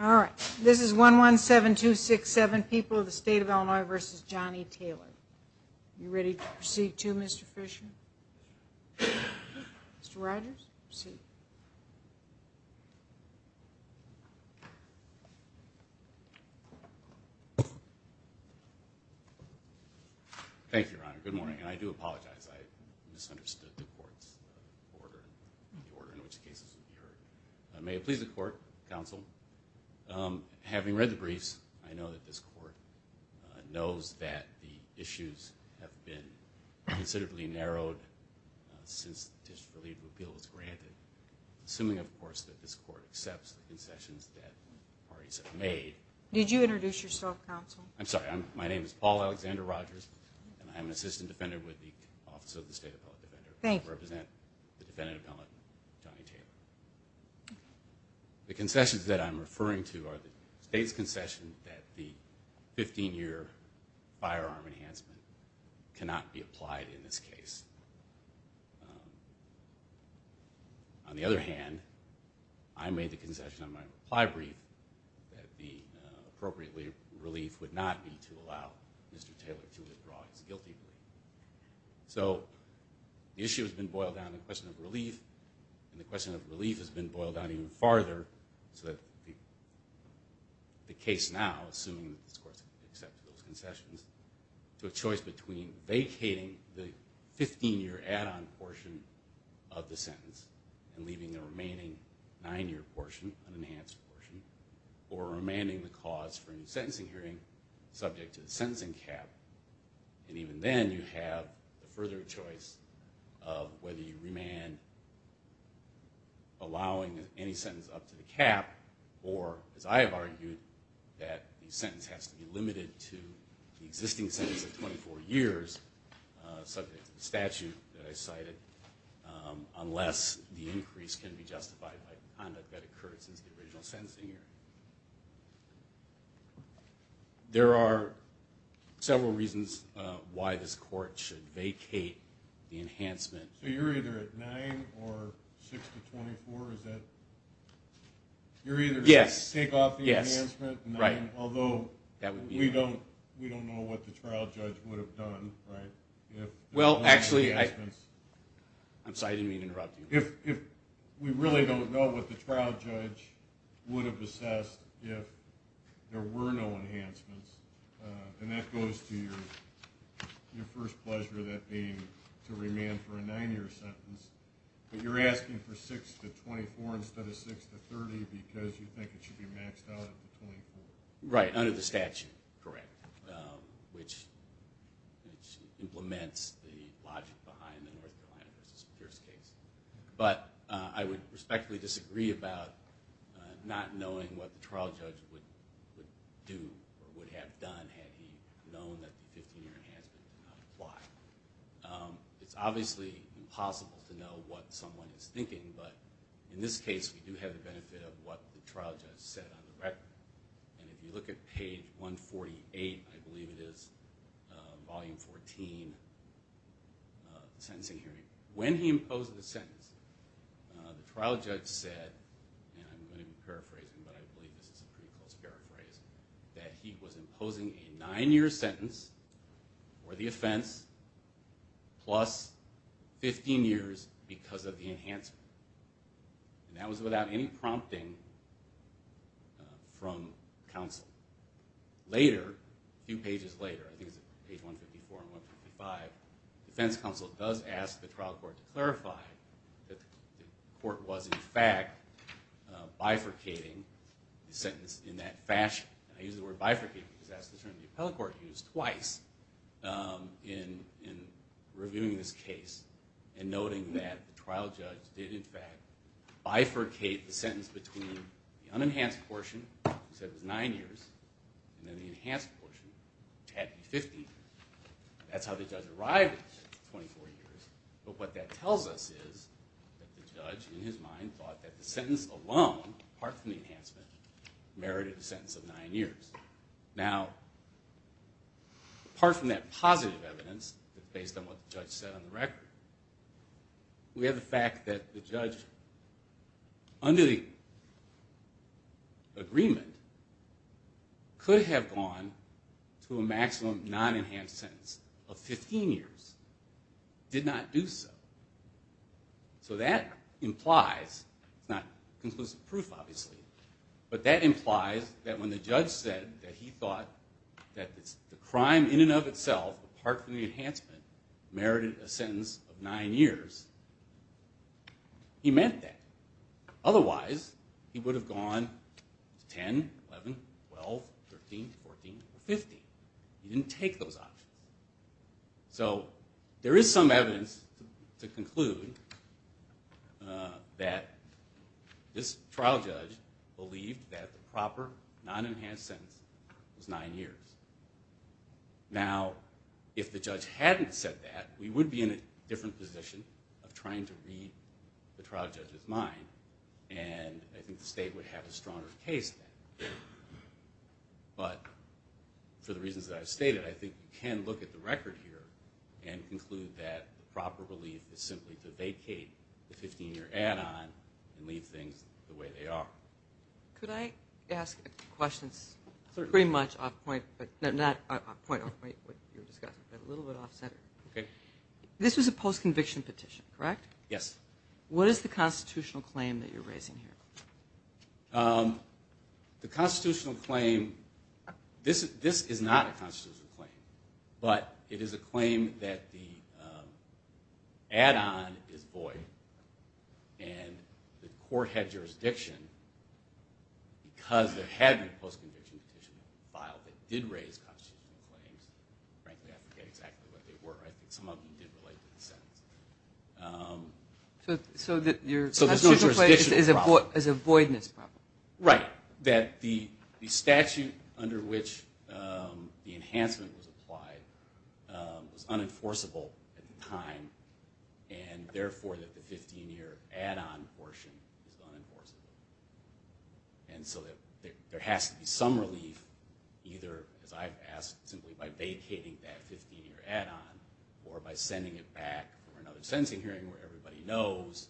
All right. This is 117267 people of the state of Illinois versus Johnny Taylor. You ready to proceed to Mr. Fisher? Mr. Rogers, proceed. Thank you, Your Honor. Good morning. I do apologize. I misunderstood the court's order. May it please the court, counsel. Having read the briefs, I know that this court knows that the issues have been considerably narrowed since the petition for legal appeal was granted. Assuming, of course, that this court accepts the concessions that parties have made. Did you introduce yourself, counsel? I'm sorry. My name is Paul Alexander Rogers, and I'm an assistant defender with the Office of the State Appellate Defender. I represent the defendant appellate, Johnny Taylor. The concessions that I'm referring to are the state's concession that the 15-year firearm enhancement cannot be applied in this case. On the other hand, I made the concession on my reply brief that the appropriate relief would not be to allow Mr. Taylor to withdraw his guilty plea. So, the issue has been boiled down to the question of relief, and the question of relief has been boiled down even farther, so that the case now, assuming that this court accepts those concessions, to a choice between vacating the 15-year add-on portion of the sentence and leaving the remaining 9-year portion, an enhanced portion, or remanding the cause for a new sentencing hearing subject to the sentencing cap. And even then, you have the further choice of whether you remand allowing any sentence up to the cap, or, as I have argued, that the sentence has to be limited to the existing sentence of 24 years, subject to the statute that I cited, unless the increase can be justified by the conduct that occurred since the original sentencing hearing. There are several reasons why this court should vacate the enhancement. So, you're either at 9 or 6 to 24? Is that... Yes. You're either going to take off the enhancement, although we don't know what the trial judge would have done, right? Well, actually, I'm sorry, I didn't mean to interrupt you. If we really don't know what the trial judge would have assessed if there were no enhancements, and that goes to your first pleasure of that being to remand for a 9-year sentence, but you're asking for 6 to 24 instead of 6 to 30 because you think it should be maxed out at 24? Right, under the statute, correct, which implements the logic behind the North Carolina versus Pierce case. But I would respectfully disagree about not knowing what the trial judge would do or would have done had he known that the 15-year enhancement did not apply. It's obviously impossible to know what someone is thinking, but in this case, we do have the benefit of what the trial judge said on the record. And if you look at page 148, I believe it is, volume 14, the sentencing hearing, when he imposed the sentence, the trial judge said, and I'm going to be paraphrasing, but I believe this is a pretty close paraphrase, that he was imposing a 9-year sentence for the offense plus 15 years because of the enhancement. And that was without any prompting from counsel. Later, a few pages later, I think it's page 154 and 155, defense counsel does ask the trial court to clarify that the court was in fact bifurcating the sentence in that fashion. And I use the word bifurcate because that's the term the appellate court used twice in reviewing this case and noting that the trial judge did in fact bifurcate the sentence between the unenhanced portion, he said it was 9 years, and then the enhanced portion, which had to be 15 years. That's how the judge arrived at 24 years. But what that tells us is that the judge, in his mind, thought that the sentence alone, apart from the enhancement, merited a sentence of 9 years. Now, apart from that positive evidence, based on what the judge said on the record, we have the fact that the judge, under the agreement, could have gone to a maximum non-enhanced sentence of 15 years, did not do so. So that implies, it's not conclusive proof, obviously, but that implies that when the judge said that he thought that the crime in and of itself, apart from the enhancement, merited a sentence of 9 years, he meant that. Otherwise, he would have gone to 10, 11, 12, 13, 14, 15. He didn't take those options. So there is some evidence to conclude that this trial judge believed that the proper non-enhanced sentence was 9 years. Now, if the judge hadn't said that, we would be in a different position of trying to read the trial judge's mind, and I think the state would have a stronger case then. But for the reasons that I've stated, I think you can look at the record here and conclude that the proper relief is simply to vacate the 15-year add-on and leave things the way they are. Could I ask a few questions? Certainly. Pretty much off point, but not off point of what you were discussing, but a little bit off center. Okay. This was a post-conviction petition, correct? Yes. What is the constitutional claim that you're raising here? The constitutional claim, this is not a constitutional claim, but it is a claim that the add-on is void and the court had jurisdiction because there had been a post-conviction petition filed that did raise constitutional claims. Frankly, I forget exactly what they were. I think some of them did relate to the sentence. So the constitutional claim is a voidness problem? Right. That the statute under which the enhancement was applied was unenforceable at the time, and therefore that the 15-year add-on portion is unenforceable. And so there has to be some relief either, as I've asked, simply by vacating that 15-year add-on or by sending it back for another sentencing hearing where everybody knows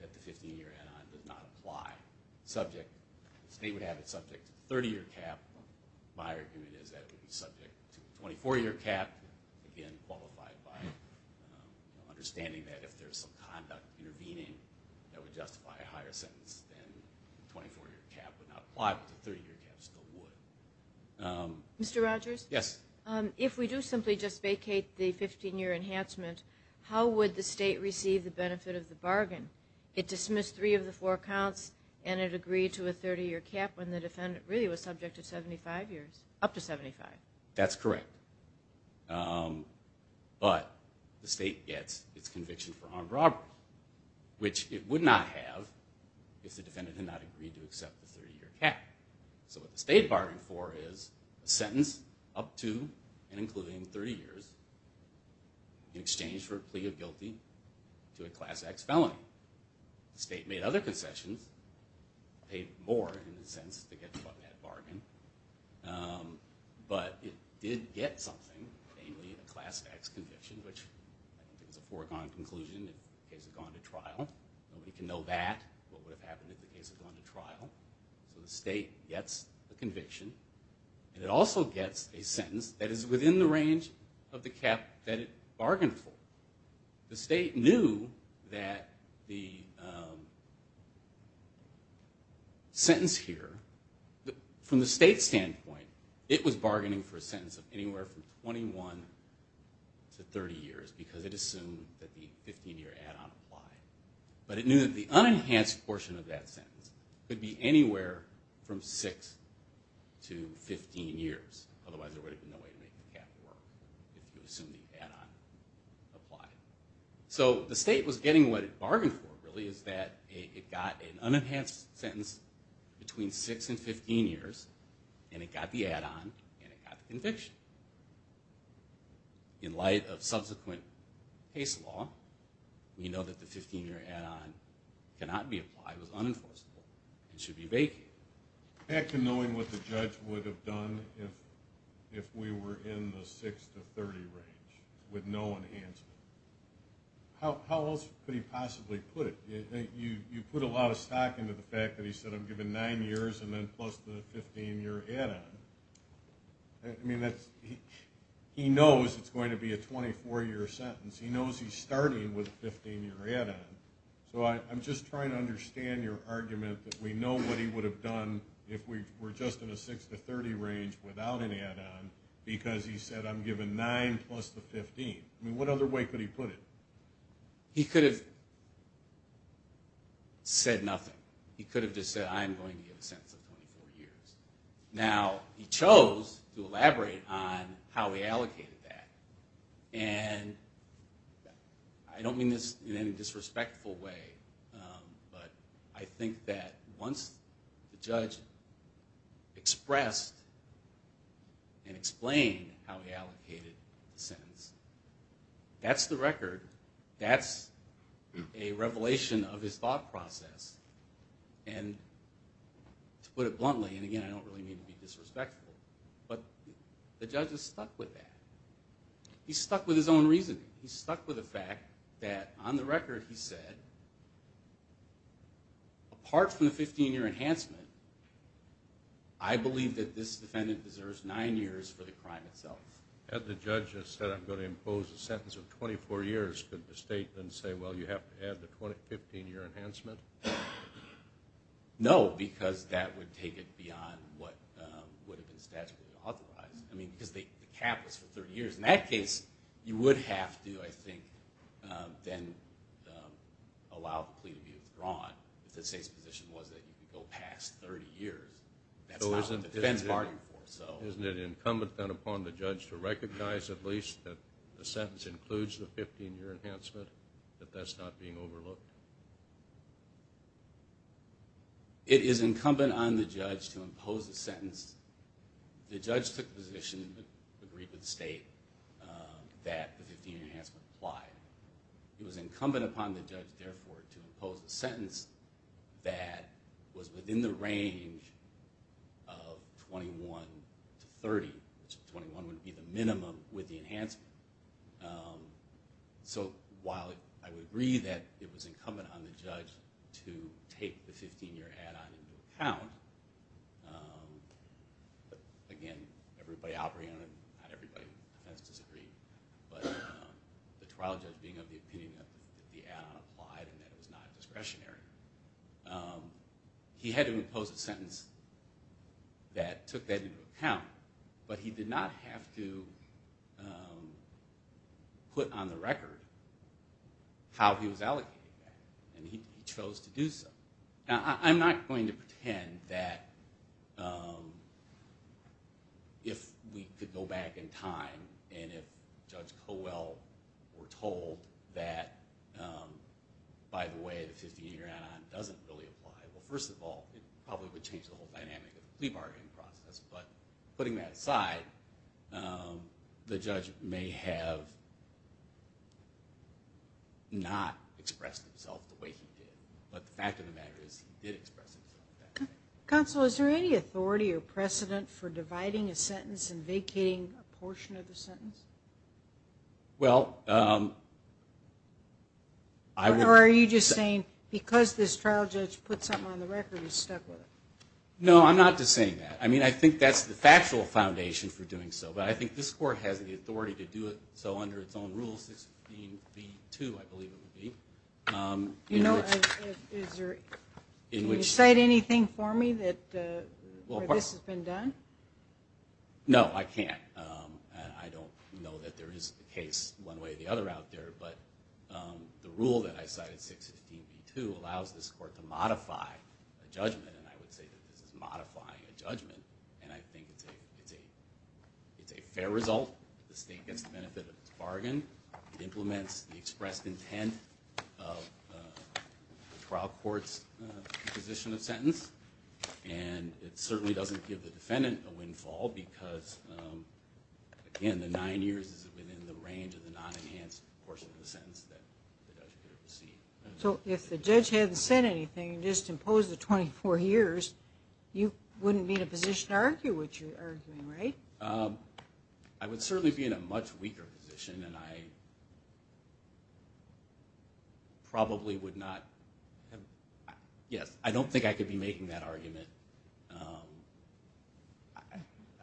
that the 15-year add-on did not apply. The state would have it subject to the 30-year cap. My argument is that it would be subject to the 24-year cap, again qualified by understanding that if there's some conduct intervening that would justify a higher sentence than the 24-year cap would not apply, but the 30-year cap still would. Mr. Rogers? Yes. If we do simply just vacate the 15-year enhancement, how would the state receive the benefit of the bargain? It dismissed three of the four counts and it agreed to a 30-year cap when the defendant really was subject to 75 years, up to 75. That's correct. But the state gets its conviction for armed robbery, which it would not have if the defendant had not agreed to accept the 30-year cap. So what the state bargained for is a sentence up to and including 30 years in exchange for a plea of guilty to a Class X felony. The state made other concessions, paid more in a sense to get to that bargain, but it did get something, namely a Class X conviction, which I don't think was a foregone conclusion if the case had gone to trial. Nobody can know that, what would have happened if the case had gone to trial. So the state gets a conviction, and it also gets a sentence that is within the range of the cap that it bargained for. The state knew that the sentence here, from the state's standpoint, it was bargaining for a sentence of anywhere from 21 to 30 years because it assumed that the 15-year add-on applied. But it knew that the unenhanced portion of that sentence could be anywhere from 6 to 15 years, otherwise there would have been no way to make the cap work if you assumed the add-on applied. So the state was getting what it bargained for, really, is that it got an unenhanced sentence between 6 and 15 years, and it got the add-on, and it got the conviction. In light of subsequent case law, we know that the 15-year add-on cannot be applied, was unenforceable, and should be vacated. Back to knowing what the judge would have done if we were in the 6 to 30 range, with no enhancement. How else could he possibly put it? You put a lot of stock into the fact that he said, I'm giving nine years and then plus the 15-year add-on. I mean, he knows it's going to be a 24-year sentence. He knows he's starting with a 15-year add-on. So I'm just trying to understand your argument that we know what he would have done if we were just in a 6 to 30 range without an add-on, because he said, I'm giving nine plus the 15. I mean, what other way could he put it? He could have said nothing. He could have just said, I'm going to give a sentence of 24 years. Now, he chose to elaborate on how he allocated that. And I don't mean this in any disrespectful way, but I think that once the judge expressed and explained how he allocated the sentence, that's the record, that's a revelation of his thought process. And to put it bluntly, and again, I don't really mean to be disrespectful, but the judge is stuck with that. He's stuck with his own reasoning. He's stuck with the fact that on the record he said, apart from the 15-year enhancement, I believe that this defendant deserves nine years for the crime itself. Had the judge just said, I'm going to impose a sentence of 24 years, could the state then say, well, you have to add the 15-year enhancement? No, because that would take it beyond what would have been statutorily authorized. I mean, because the cap was for 30 years. In that case, you would have to, I think, then allow the plea to be withdrawn. If the state's position was that you could go past 30 years, that's not what the defense bargained for. Isn't it incumbent then upon the judge to recognize at least that the sentence includes the 15-year enhancement, that that's not being overlooked? It is incumbent upon the judge to impose a sentence. The judge took the position and agreed with the state that the 15-year enhancement applied. It was incumbent upon the judge, therefore, to impose a sentence that was within the range of 21 to 30, which 21 would be the minimum with the enhancement. So while I would agree that it was incumbent on the judge to take the 15-year add-on into account, again, everybody operating on it, not everybody in the defense disagreed, but the trial judge being of the opinion that the add-on applied and that it was not discretionary, he had to impose a sentence that took that into account. But he did not have to put on the record how he was allocating that, and he chose to do so. Now, I'm not going to pretend that if we could go back in time and if Judge Cowell were told that, by the way, the 15-year add-on doesn't really apply, well, first of all, it probably would change the whole dynamic of the plea bargaining process. But putting that aside, the judge may have not expressed himself the way he did. But the fact of the matter is he did express himself that way. Counsel, is there any authority or precedent for dividing a sentence and vacating a portion of the sentence? Well, I would... Or are you just saying because this trial judge put something on the record, he stuck with it? No, I'm not just saying that. I mean, I think that's the factual foundation for doing so, but I think this Court has the authority to do it so under its own rules, 16b-2, I believe it would be. Can you cite anything for me where this has been done? No, I can't. I don't know that there is a case one way or the other out there, but the rule that I cited, 615b-2, allows this Court to modify a judgment, and I would say that this is modifying a judgment, and I think it's a fair result. The State gets the benefit of its bargain. It implements the expressed intent of the trial court's position of sentence, and it certainly doesn't give the defendant a windfall because, again, the nine years is within the range of the non-enhanced portion of the sentence that the judge could have received. So if the judge hadn't said anything and just imposed the 24 years, you wouldn't be in a position to argue what you're arguing, right? I would certainly be in a much weaker position, and I probably would not have – yes, I don't think I could be making that argument.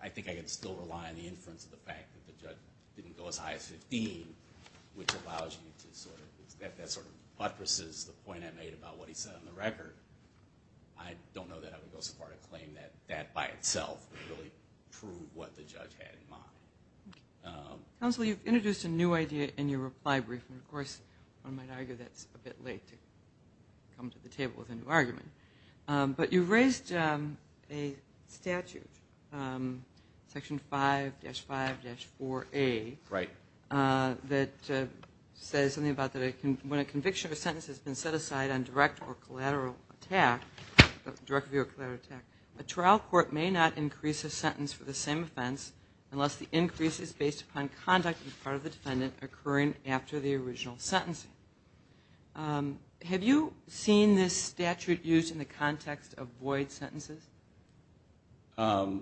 I think I could still rely on the inference of the fact that the judge didn't go as high as 15, which allows you to sort of – that sort of buttresses the point I made about what he said on the record. I don't know that I would go so far to claim that that by itself would really prove what the judge had in mind. Counsel, you've introduced a new idea in your reply briefing. Of course, one might argue that's a bit late to come to the table with a new argument. But you've raised a statute, Section 5-5-4A. Right. That says something about when a conviction or sentence has been set aside on direct or collateral attack, direct or collateral attack, a trial court may not increase a sentence for the same offense unless the increase is based upon conduct on the part of the defendant occurring after the original sentence. Have you seen this statute used in the context of void sentences? I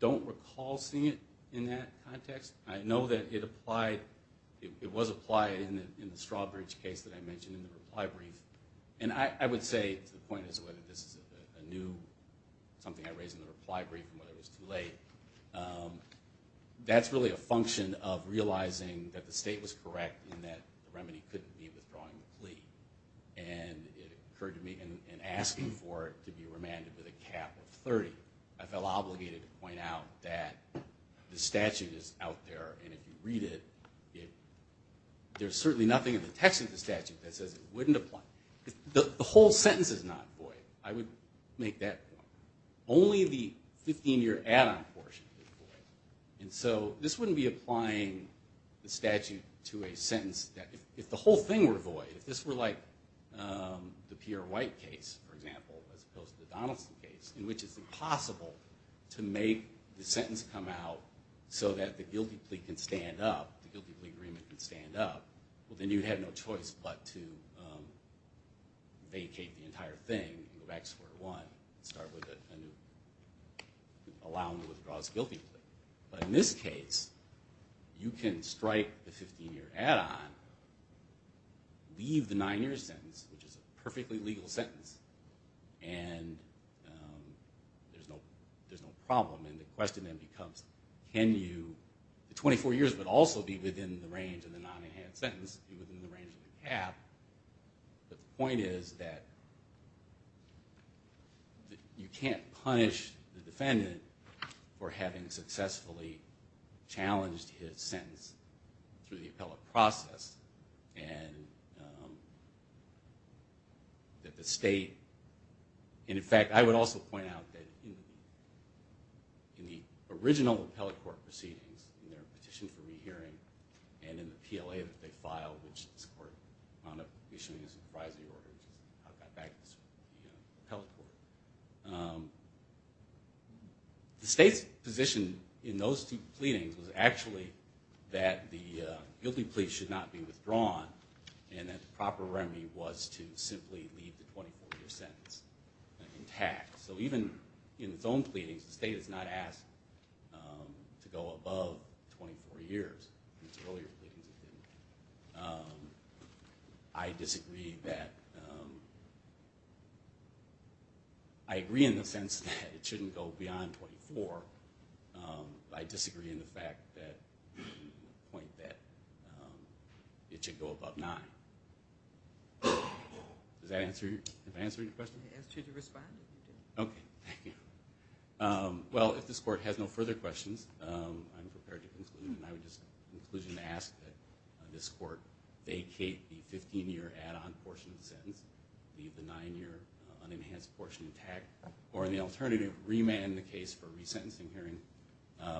don't recall seeing it in that context. I know that it applied – it was applied in the Strawbridge case that I mentioned in the reply brief. And I would say to the point as to whether this is a new – something I raised in the reply brief and whether it was too late, that's really a function of realizing that the state was correct in that the remedy couldn't be withdrawing the plea. And it occurred to me in asking for it to be remanded with a cap of 30, I felt obligated to point out that the statute is out there. And if you read it, there's certainly nothing in the text of the statute that says it wouldn't apply. The whole sentence is not void. I would make that point. Only the 15-year add-on portion is void. And so this wouldn't be applying the statute to a sentence that – if the whole thing were void, if this were like the Pierre White case, for example, as opposed to the Donaldson case, in which it's impossible to make the sentence come out so that the guilty plea can stand up, the guilty plea agreement can stand up, well, then you'd have no choice but to vacate the entire thing and go back to square one and start with a new – allow them to withdraw this guilty plea. But in this case, you can strike the 15-year add-on, leave the nine-year sentence, which is a perfectly legal sentence, and there's no problem. And the question then becomes, can you – the 24 years would also be within the range of the non-enhanced sentence, But the point is that you can't punish the defendant for having successfully challenged his sentence through the appellate process and that the state – and, in fact, I would also point out that in the original appellate court proceedings, in their petition for rehearing and in the PLA that they filed, which this court wound up issuing as a surprising order, which is how it got back to the appellate court, the state's position in those two pleadings was actually that the guilty plea should not be withdrawn and that the proper remedy was to simply leave the 24-year sentence intact. So even in its own pleadings, the state has not asked to go above 24 years. In its earlier pleadings, it didn't. I disagree that – I agree in the sense that it shouldn't go beyond 24. I disagree in the fact that – the point that it should go above nine. Does that answer your question? Okay. Thank you. Well, if this court has no further questions, I'm prepared to conclude, and I would just conclude and ask that this court vacate the 15-year add-on portion of the sentence, leave the nine-year unenhanced portion intact, or, in the alternative, remand the case for resentencing hearing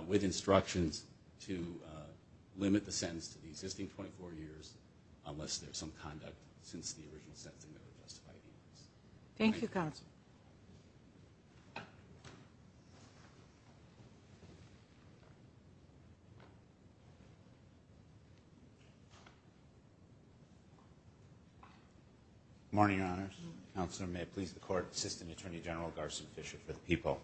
with instructions to limit the sentence to the existing 24 years unless there's some conduct since the original sentencing that would justify the increase. Thank you, Counsel. Good morning, Your Honors. Counselor, may it please the Court, Assistant Attorney General Garson Fisher for the people.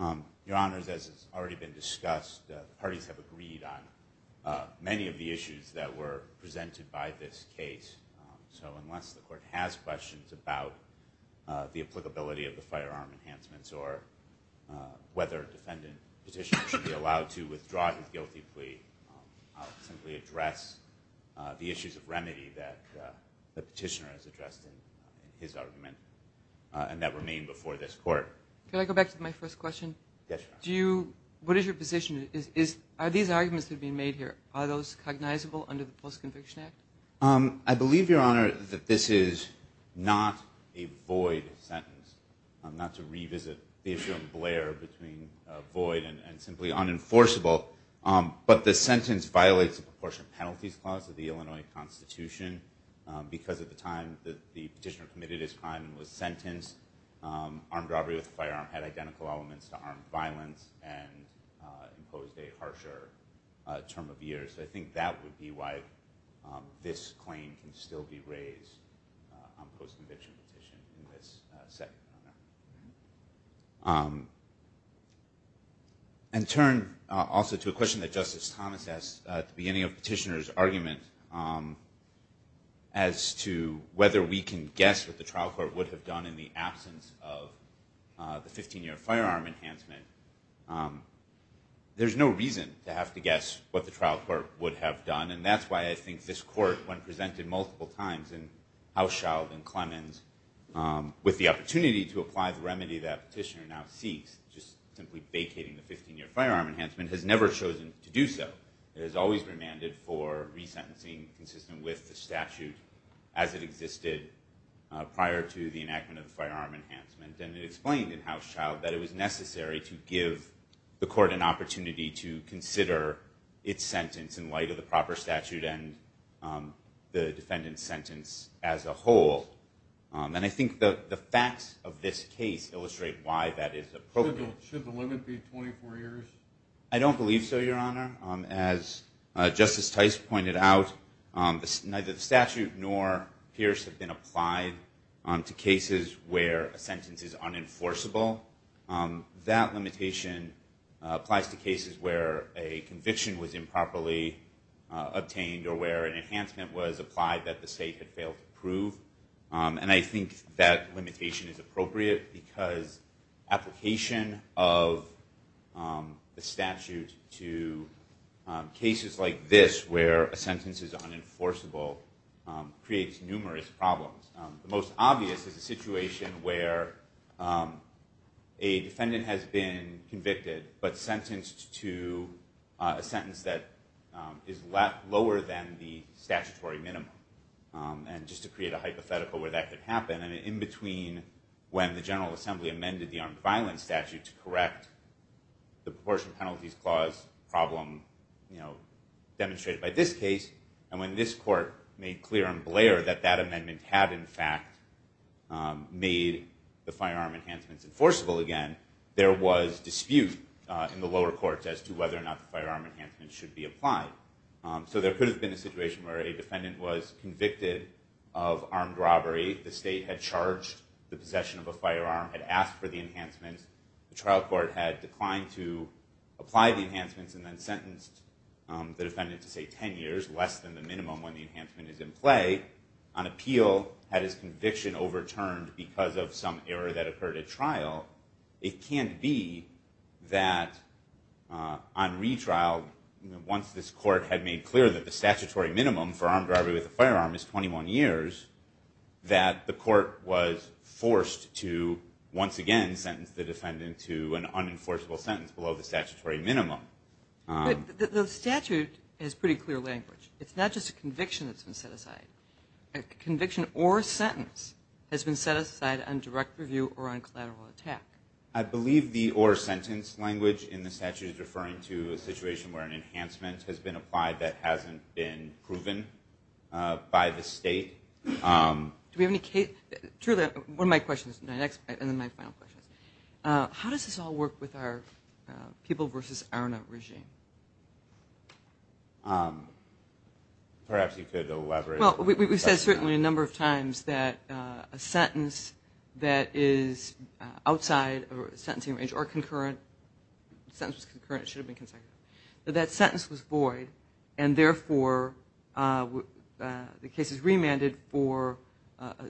Your Honors, as has already been discussed, the parties have agreed on many of the issues that were presented by this case. So unless the Court has questions about the applicability of the firearm enhancements or whether a defendant petitioner should be allowed to withdraw his guilty plea, I'll simply address the issues of remedy that the petitioner has addressed in his argument and that remain before this Court. Can I go back to my first question? Yes, Your Honors. What is your position? Are these arguments that are being made here, are those cognizable under the Post-Conviction Act? I believe, Your Honor, that this is not a void sentence, not to revisit the issue of Blair between void and simply unenforceable, but the sentence violates the Proportion Penalties Clause of the Illinois Constitution because at the time that the petitioner committed his crime and was sentenced, armed robbery with a firearm had identical elements to armed violence and imposed a harsher term of year. So I think that would be why this claim can still be raised on post-conviction petition in this setting. And turn also to a question that Justice Thomas asked at the beginning of the petitioner's argument as to whether we can guess what the trial court would have done in the absence of the 15-year firearm enhancement. There's no reason to have to guess what the trial court would have done, and that's why I think this Court, when presented multiple times in Hauschild and Clemens, with the opportunity to apply the remedy that petitioner now seeks, just simply vacating the 15-year firearm enhancement, has never chosen to do so. It has always been mandated for resentencing consistent with the statute as it existed prior to the enactment of the firearm enhancement. And it explained in Hauschild that it was necessary to give the court an opportunity to consider its sentence in light of the proper statute and the defendant's sentence as a whole. And I think the facts of this case illustrate why that is appropriate. Should the limit be 24 years? I don't believe so, Your Honor. As Justice Tice pointed out, neither the statute nor Pierce have been applied to cases where a sentence is unenforceable. That limitation applies to cases where a conviction was improperly obtained or where an enhancement was applied that the state had failed to prove. And I think that limitation is appropriate because application of the statute to cases like this where a sentence is unenforceable creates numerous problems. The most obvious is a situation where a defendant has been convicted but sentenced to a sentence that is lower than the statutory minimum. And just to create a hypothetical where that could happen, in between when the General Assembly amended the Armed Violence Statute to correct the Proportion Penalties Clause problem demonstrated by this case and when this court made clear and blare that that amendment had in fact made the firearm enhancements enforceable again, there was dispute in the lower courts as to whether or not the firearm enhancement should be applied. So there could have been a situation where a defendant was convicted of armed robbery, the state had charged the possession of a firearm, had asked for the enhancements, the trial court had declined to apply the enhancements and then sentenced the defendant to say 10 years, less than the minimum when the enhancement is in play. On appeal, had his conviction overturned because of some error that occurred at trial, it can't be that on retrial, once this court had made clear that the statutory minimum for armed robbery with a firearm is 21 years, that the court was forced to once again sentence the defendant to an unenforceable sentence below the statutory minimum. But the statute has pretty clear language. It's not just a conviction that's been set aside. A conviction or a sentence has been set aside on direct review or on collateral attack. I believe the or sentence language in the statute is referring to a situation where an enhancement has been applied that hasn't been proven by the state. Do we have any case – truly, one of my questions, and then my final question is, how does this all work with our people versus ARNA regime? Perhaps you could elaborate. Well, we've said certainly a number of times that a sentence that is outside a sentencing range or concurrent – the sentence was concurrent, it should have been consecutive. But that sentence was void, and therefore the case is remanded for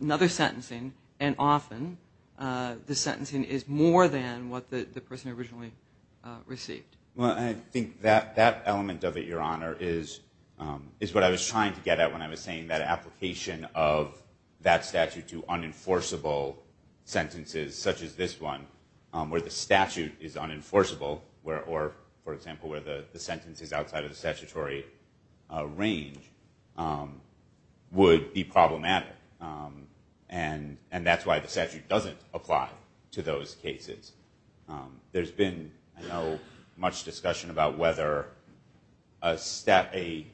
another sentencing, and often the sentencing is more than what the person originally received. Well, I think that element of it, Your Honor, is what I was trying to get at when I was saying that application of that statute to unenforceable sentences, such as this one, where the statute is unenforceable, or, for example, where the sentence is outside of the statutory range, would be problematic. And that's why the statute doesn't apply to those cases. There's been, I know, much discussion about whether a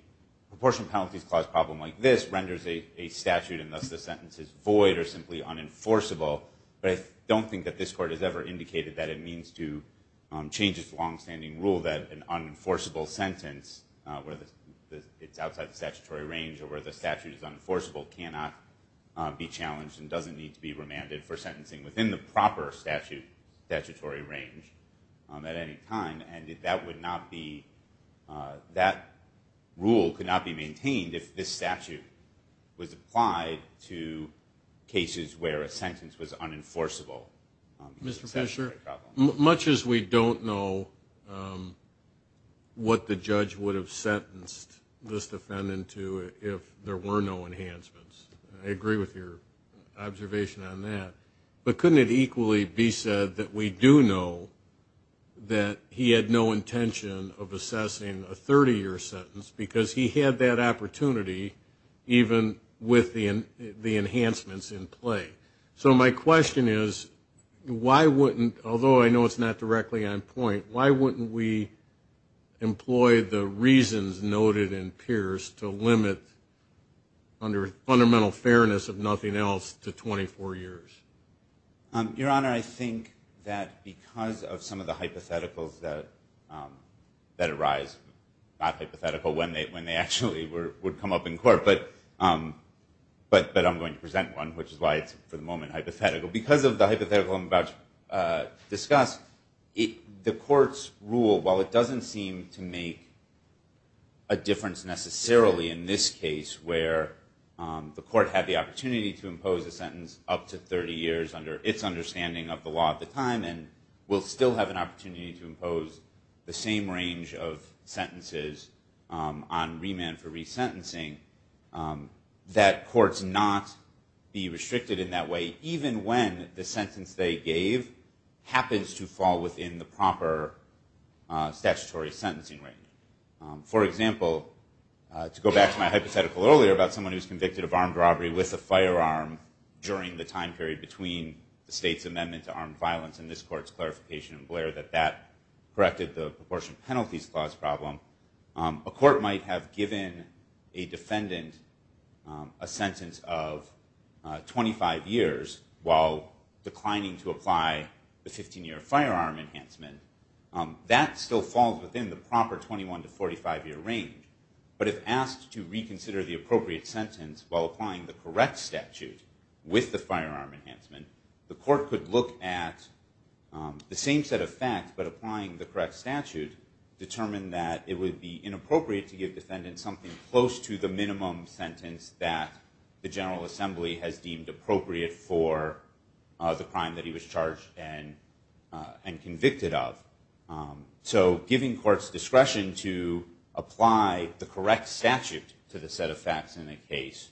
proportion penalties clause problem like this renders a statute, and thus the sentence is void or simply unenforceable, but I don't think that this Court has ever indicated that it means to change its longstanding rule that an unenforceable sentence, where it's outside the statutory range or where the statute is unenforceable, cannot be challenged and doesn't need to be remanded for sentencing within the proper statutory range at any time. And that rule could not be maintained if this statute was applied to cases where a sentence was unenforceable. Mr. Fisher, much as we don't know what the judge would have sentenced this defendant to if there were no enhancements, I agree with your observation on that, but couldn't it equally be said that we do know that he had no intention of assessing a 30-year sentence because he had that opportunity even with the enhancements in play? So my question is, why wouldn't, although I know it's not directly on point, why wouldn't we employ the reasons noted in Pierce to limit under fundamental fairness of nothing else to 24 years? Your Honor, I think that because of some of the hypotheticals that arise, not hypothetical when they actually would come up in court, but I'm going to present one, which is why it's for the moment hypothetical. Because of the hypothetical I'm about to discuss, the court's rule, while it doesn't seem to make a difference necessarily in this case where the court had the opportunity to impose a sentence up to 30 years under its understanding of the law at the time and will still have an opportunity to impose the same range of sentences on remand for resentencing, that courts not be restricted in that way even when the sentence they gave happens to fall within the proper statutory sentencing range. For example, to go back to my hypothetical earlier about someone who was convicted of armed robbery with a firearm during the time period between the state's amendment to armed violence and this court's clarification in Blair that that corrected the Proportion Penalties Clause problem, a court might have given a defendant a sentence of 25 years while declining to apply the 15-year firearm enhancement. That still falls within the proper 21 to 45-year range. But if asked to reconsider the appropriate sentence while applying the correct statute with the firearm enhancement, the court could look at the same set of facts but applying the correct statute determined that it would be inappropriate to give defendants something close to the minimum sentence that the General Assembly has deemed appropriate for the crime that he was charged and convicted of. So giving courts discretion to apply the correct statute to the set of facts in a case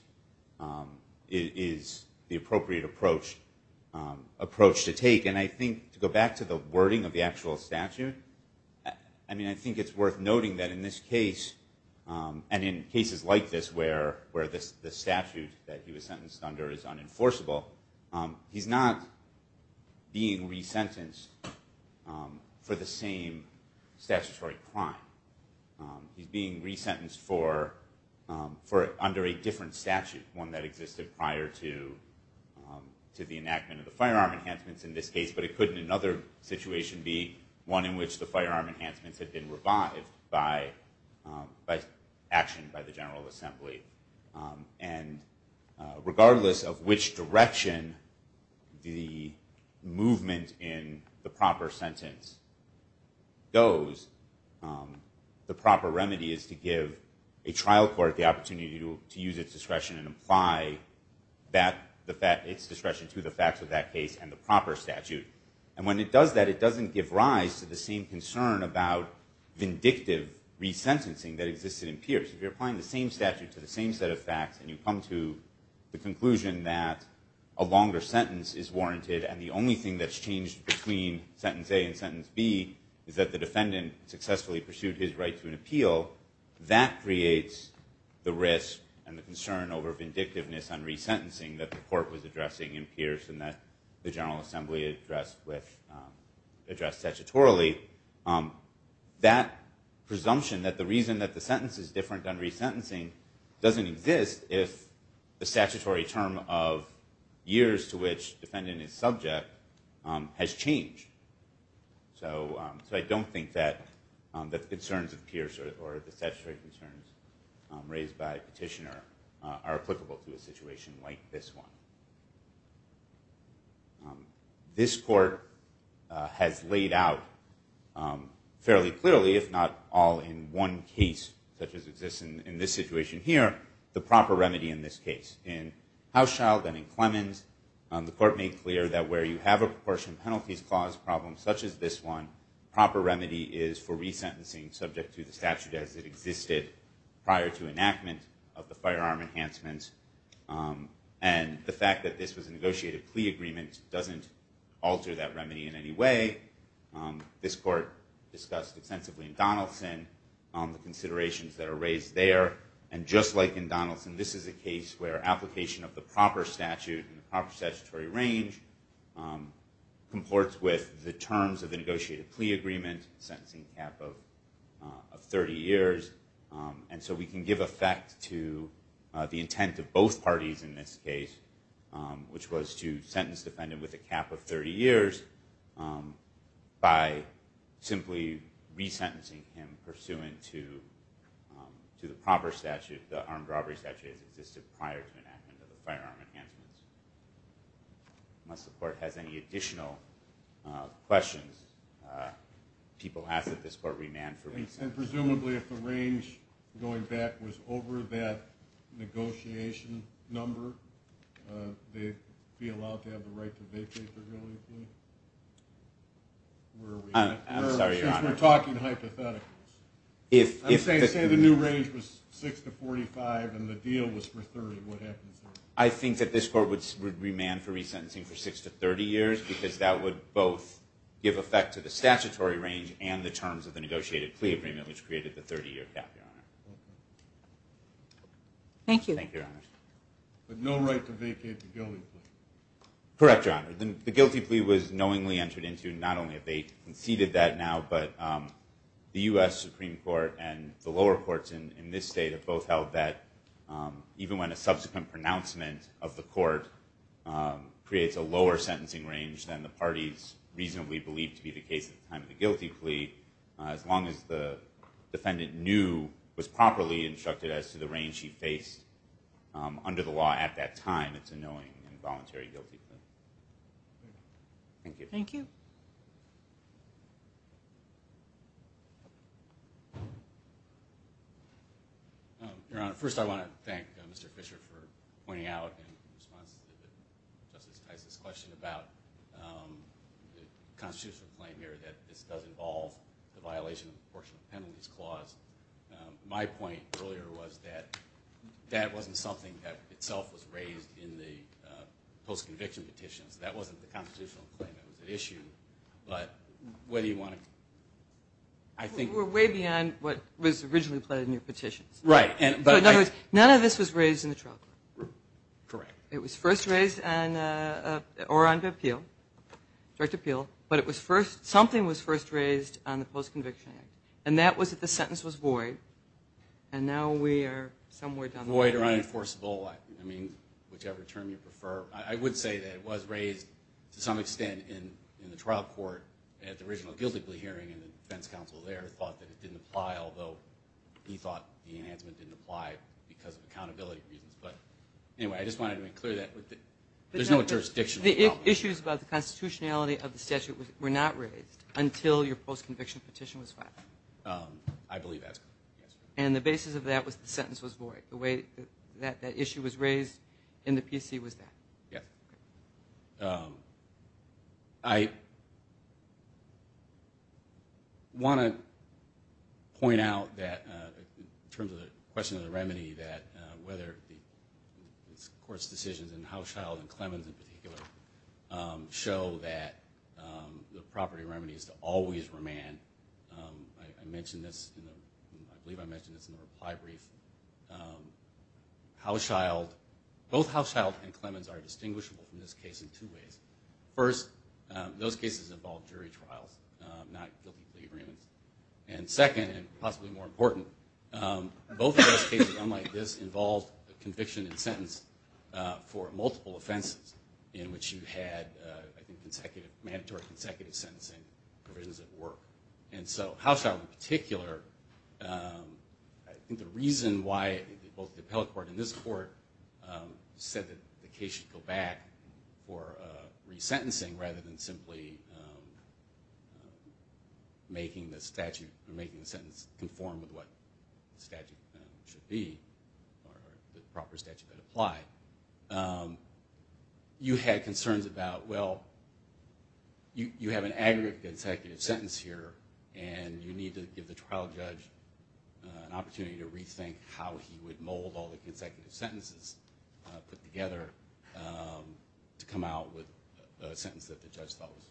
is the appropriate approach to take. Again, I think to go back to the wording of the actual statute, I mean, I think it's worth noting that in this case and in cases like this where the statute that he was sentenced under is unenforceable, he's not being resentenced for the same statutory crime. He's being resentenced for under a different statute, one that existed prior to the enactment of the firearm enhancements in this case, but it couldn't in another situation be one in which the firearm enhancements had been revived by action by the General Assembly. And regardless of which direction the movement in the proper sentence goes, the proper remedy is to give a trial court the opportunity to use its discretion and apply its discretion to the facts of that case and the proper statute. And when it does that, it doesn't give rise to the same concern about vindictive resentencing that existed in Pierce. If you're applying the same statute to the same set of facts and you come to the conclusion that a longer sentence is warranted and the only thing that's changed between sentence A and sentence B is that the defendant successfully pursued his right to an appeal, that creates the risk and the concern over vindictiveness on resentencing that the court was addressing in Pierce and that the General Assembly addressed statutorily. That presumption that the reason that the sentence is different on resentencing doesn't exist if the statutory term of years to which the defendant is subject has changed. So I don't think that the concerns of Pierce or the statutory concerns raised by Petitioner are applicable to a situation like this one. This court has laid out fairly clearly, if not all in one case, such as exists in this situation here, the proper remedy in this case. In Hauschildt and in Clemens, the court made clear that where you have a fair proportion penalties clause problem such as this one, proper remedy is for resentencing subject to the statute as it existed prior to enactment of the firearm enhancements. And the fact that this was a negotiated plea agreement doesn't alter that remedy in any way. This court discussed extensively in Donaldson the considerations that are raised there. And just like in Donaldson, this is a case where application of the proper statute in the proper statutory range comports with the terms of the negotiated plea agreement sentencing cap of 30 years. And so we can give effect to the intent of both parties in this case, which was to sentence the defendant with a cap of 30 years by simply resentencing him pursuant to the proper statute, if the armed robbery statute has existed prior to enactment of the firearm enhancements. Unless the court has any additional questions, people ask that this court remand for reasons. And presumably if the range going back was over that negotiation number, they'd be allowed to have the right to vacate their guilty plea? I'm sorry, Your Honor. We're talking hypothetically. I'm saying say the new range was 6 to 45 and the deal was for 30. What happens then? I think that this court would remand for resentencing for 6 to 30 years because that would both give effect to the statutory range and the terms of the negotiated plea agreement, which created the 30-year cap, Your Honor. Thank you. Thank you, Your Honor. But no right to vacate the guilty plea? Correct, Your Honor. The guilty plea was knowingly entered into not only if they conceded that now, but the U.S. Supreme Court and the lower courts in this state have both held that even when a subsequent pronouncement of the court creates a lower sentencing range than the parties reasonably believed to be the case at the time of the guilty plea, as long as the defendant knew, was properly instructed as to the range he faced under the law at that time, it's a knowing and voluntary guilty plea. Thank you. Thank you. Your Honor, first I want to thank Mr. Fisher for pointing out in response to Justice Tice's question about the constitutional claim here that this does involve the violation of the Portion of Penalties Clause. My point earlier was that that wasn't something that itself was raised in the post-conviction petitions. That wasn't the constitutional claim that was at issue. But whether you want to – I think – You were way beyond what was originally pledged in your petitions. Right. In other words, none of this was raised in the trial court. Correct. It was first raised on – or under appeal, direct appeal, but it was first – something was first raised on the post-conviction act, and that was that the sentence was void, and now we are somewhere down the line. Void or unenforceable, I mean, whichever term you prefer. I would say that it was raised to some extent in the trial court at the original Gilded Glee hearing, and the defense counsel there thought that it didn't apply, although he thought the enhancement didn't apply because of accountability reasons. But anyway, I just wanted to make clear that there's no jurisdictional problem. The issues about the constitutionality of the statute were not raised until your post-conviction petition was filed. I believe that's correct. And the basis of that was the sentence was void. That issue was raised, and the PC was that. Yes. I want to point out that in terms of the question of the remedy, that whether the court's decisions in Houshild and Clemens in particular show that the property remedy is to always remand. I mentioned this, I believe I mentioned this in the reply brief. Both Houshild and Clemens are distinguishable from this case in two ways. First, those cases involved jury trials, not guilty plea agreements. And second, and possibly more important, both of those cases, unlike this, involved a conviction and sentence for multiple offenses in which you had, I think, mandatory consecutive sentencing provisions at work. And so Houshild in particular, I think the reason why both the appellate court and this court said that the case should go back for resentencing rather than simply making the sentence conform with what the statute should be, or the proper statute that applied, you had concerns about, well, you have an aggregate consecutive sentence here, and you need to give the trial judge an opportunity to rethink how he would mold all the consecutive sentences put together to come out with a sentence that the judge thought was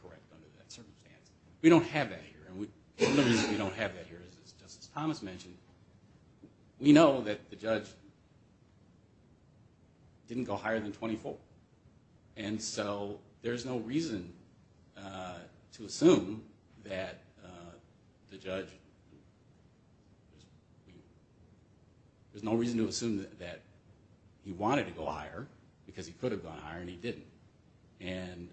correct under that circumstance. We don't have that here, and the reason we don't have that here is, as Justice Thomas mentioned, we know that the judge didn't go higher than 24. And so there's no reason to assume that the judge, there's no reason to assume that he wanted to go higher because he could have gone higher and he didn't. And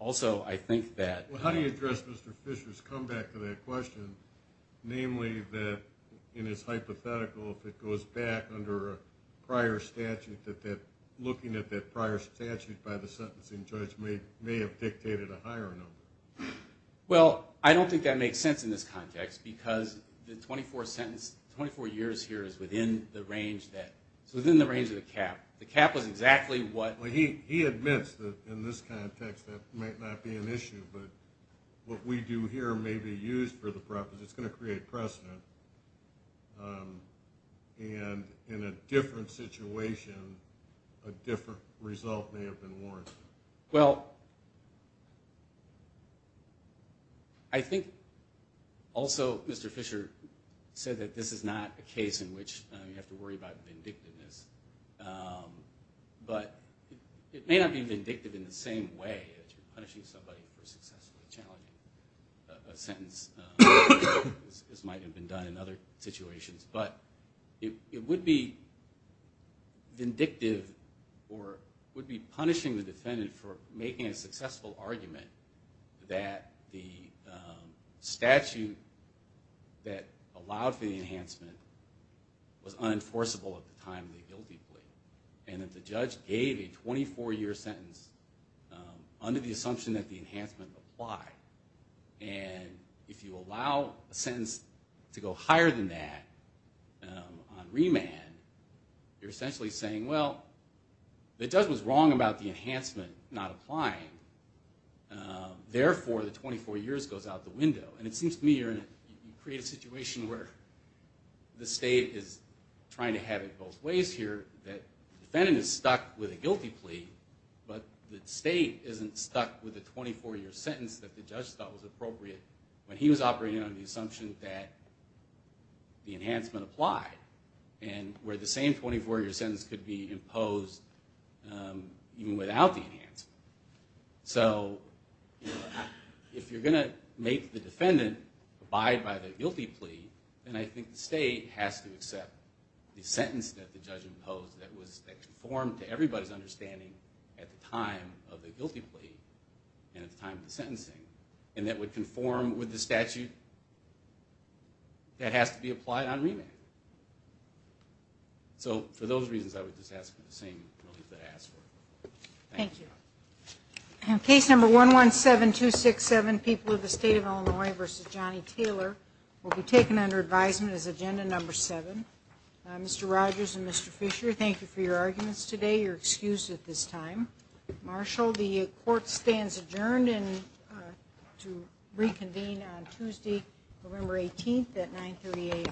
also I think that... Well, how do you address Mr. Fisher's comeback to that question, namely that in his hypothetical, if it goes back under a prior statute, that looking at that prior statute by the sentencing judge may have dictated a higher number? Well, I don't think that makes sense in this context because the 24 sentence, 24 years here is within the range that, it's within the range of the cap. The cap was exactly what... He admits that in this context that might not be an issue, but what we do here may be used for the purpose. It's going to create precedent. And in a different situation, a different result may have been warranted. Well, I think also Mr. Fisher said that this is not a case in which you have to worry about vindictiveness. But it may not be vindictive in the same way that you're punishing somebody for successfully challenging a sentence. This might have been done in other situations, but it would be vindictive or would be punishing the defendant for making a successful argument that the statute that allowed for the enhancement was unenforceable at the time of the guilty plea. And that the judge gave a 24-year sentence under the assumption that the enhancement applied. And if you allow a sentence to go higher than that on remand, you're essentially saying, well, the judge was wrong about the enhancement not applying. Therefore, the 24 years goes out the window. And it seems to me you create a situation where the state is trying to have it both ways here, that the defendant is stuck with a guilty plea, but the state isn't stuck with a 24-year sentence that the judge thought was appropriate when he was operating under the assumption that the enhancement applied. And where the same 24-year sentence could be imposed even without the enhancement. So if you're going to make the defendant abide by the guilty plea, then I think the state has to accept the sentence that the judge imposed that conformed to everybody's understanding at the time of the guilty plea and at the time of the sentencing. And that would conform with the statute that has to be applied on remand. So for those reasons, I would just ask for the same relief that I asked for. Thank you. Case number 117267, People of the State of Illinois v. Johnny Taylor, will be taken under advisement as agenda number seven. Mr. Rogers and Mr. Fisher, thank you for your arguments today. You're excused at this time. Marshal, the court stands adjourned to reconvene on Tuesday, November 18th at 938.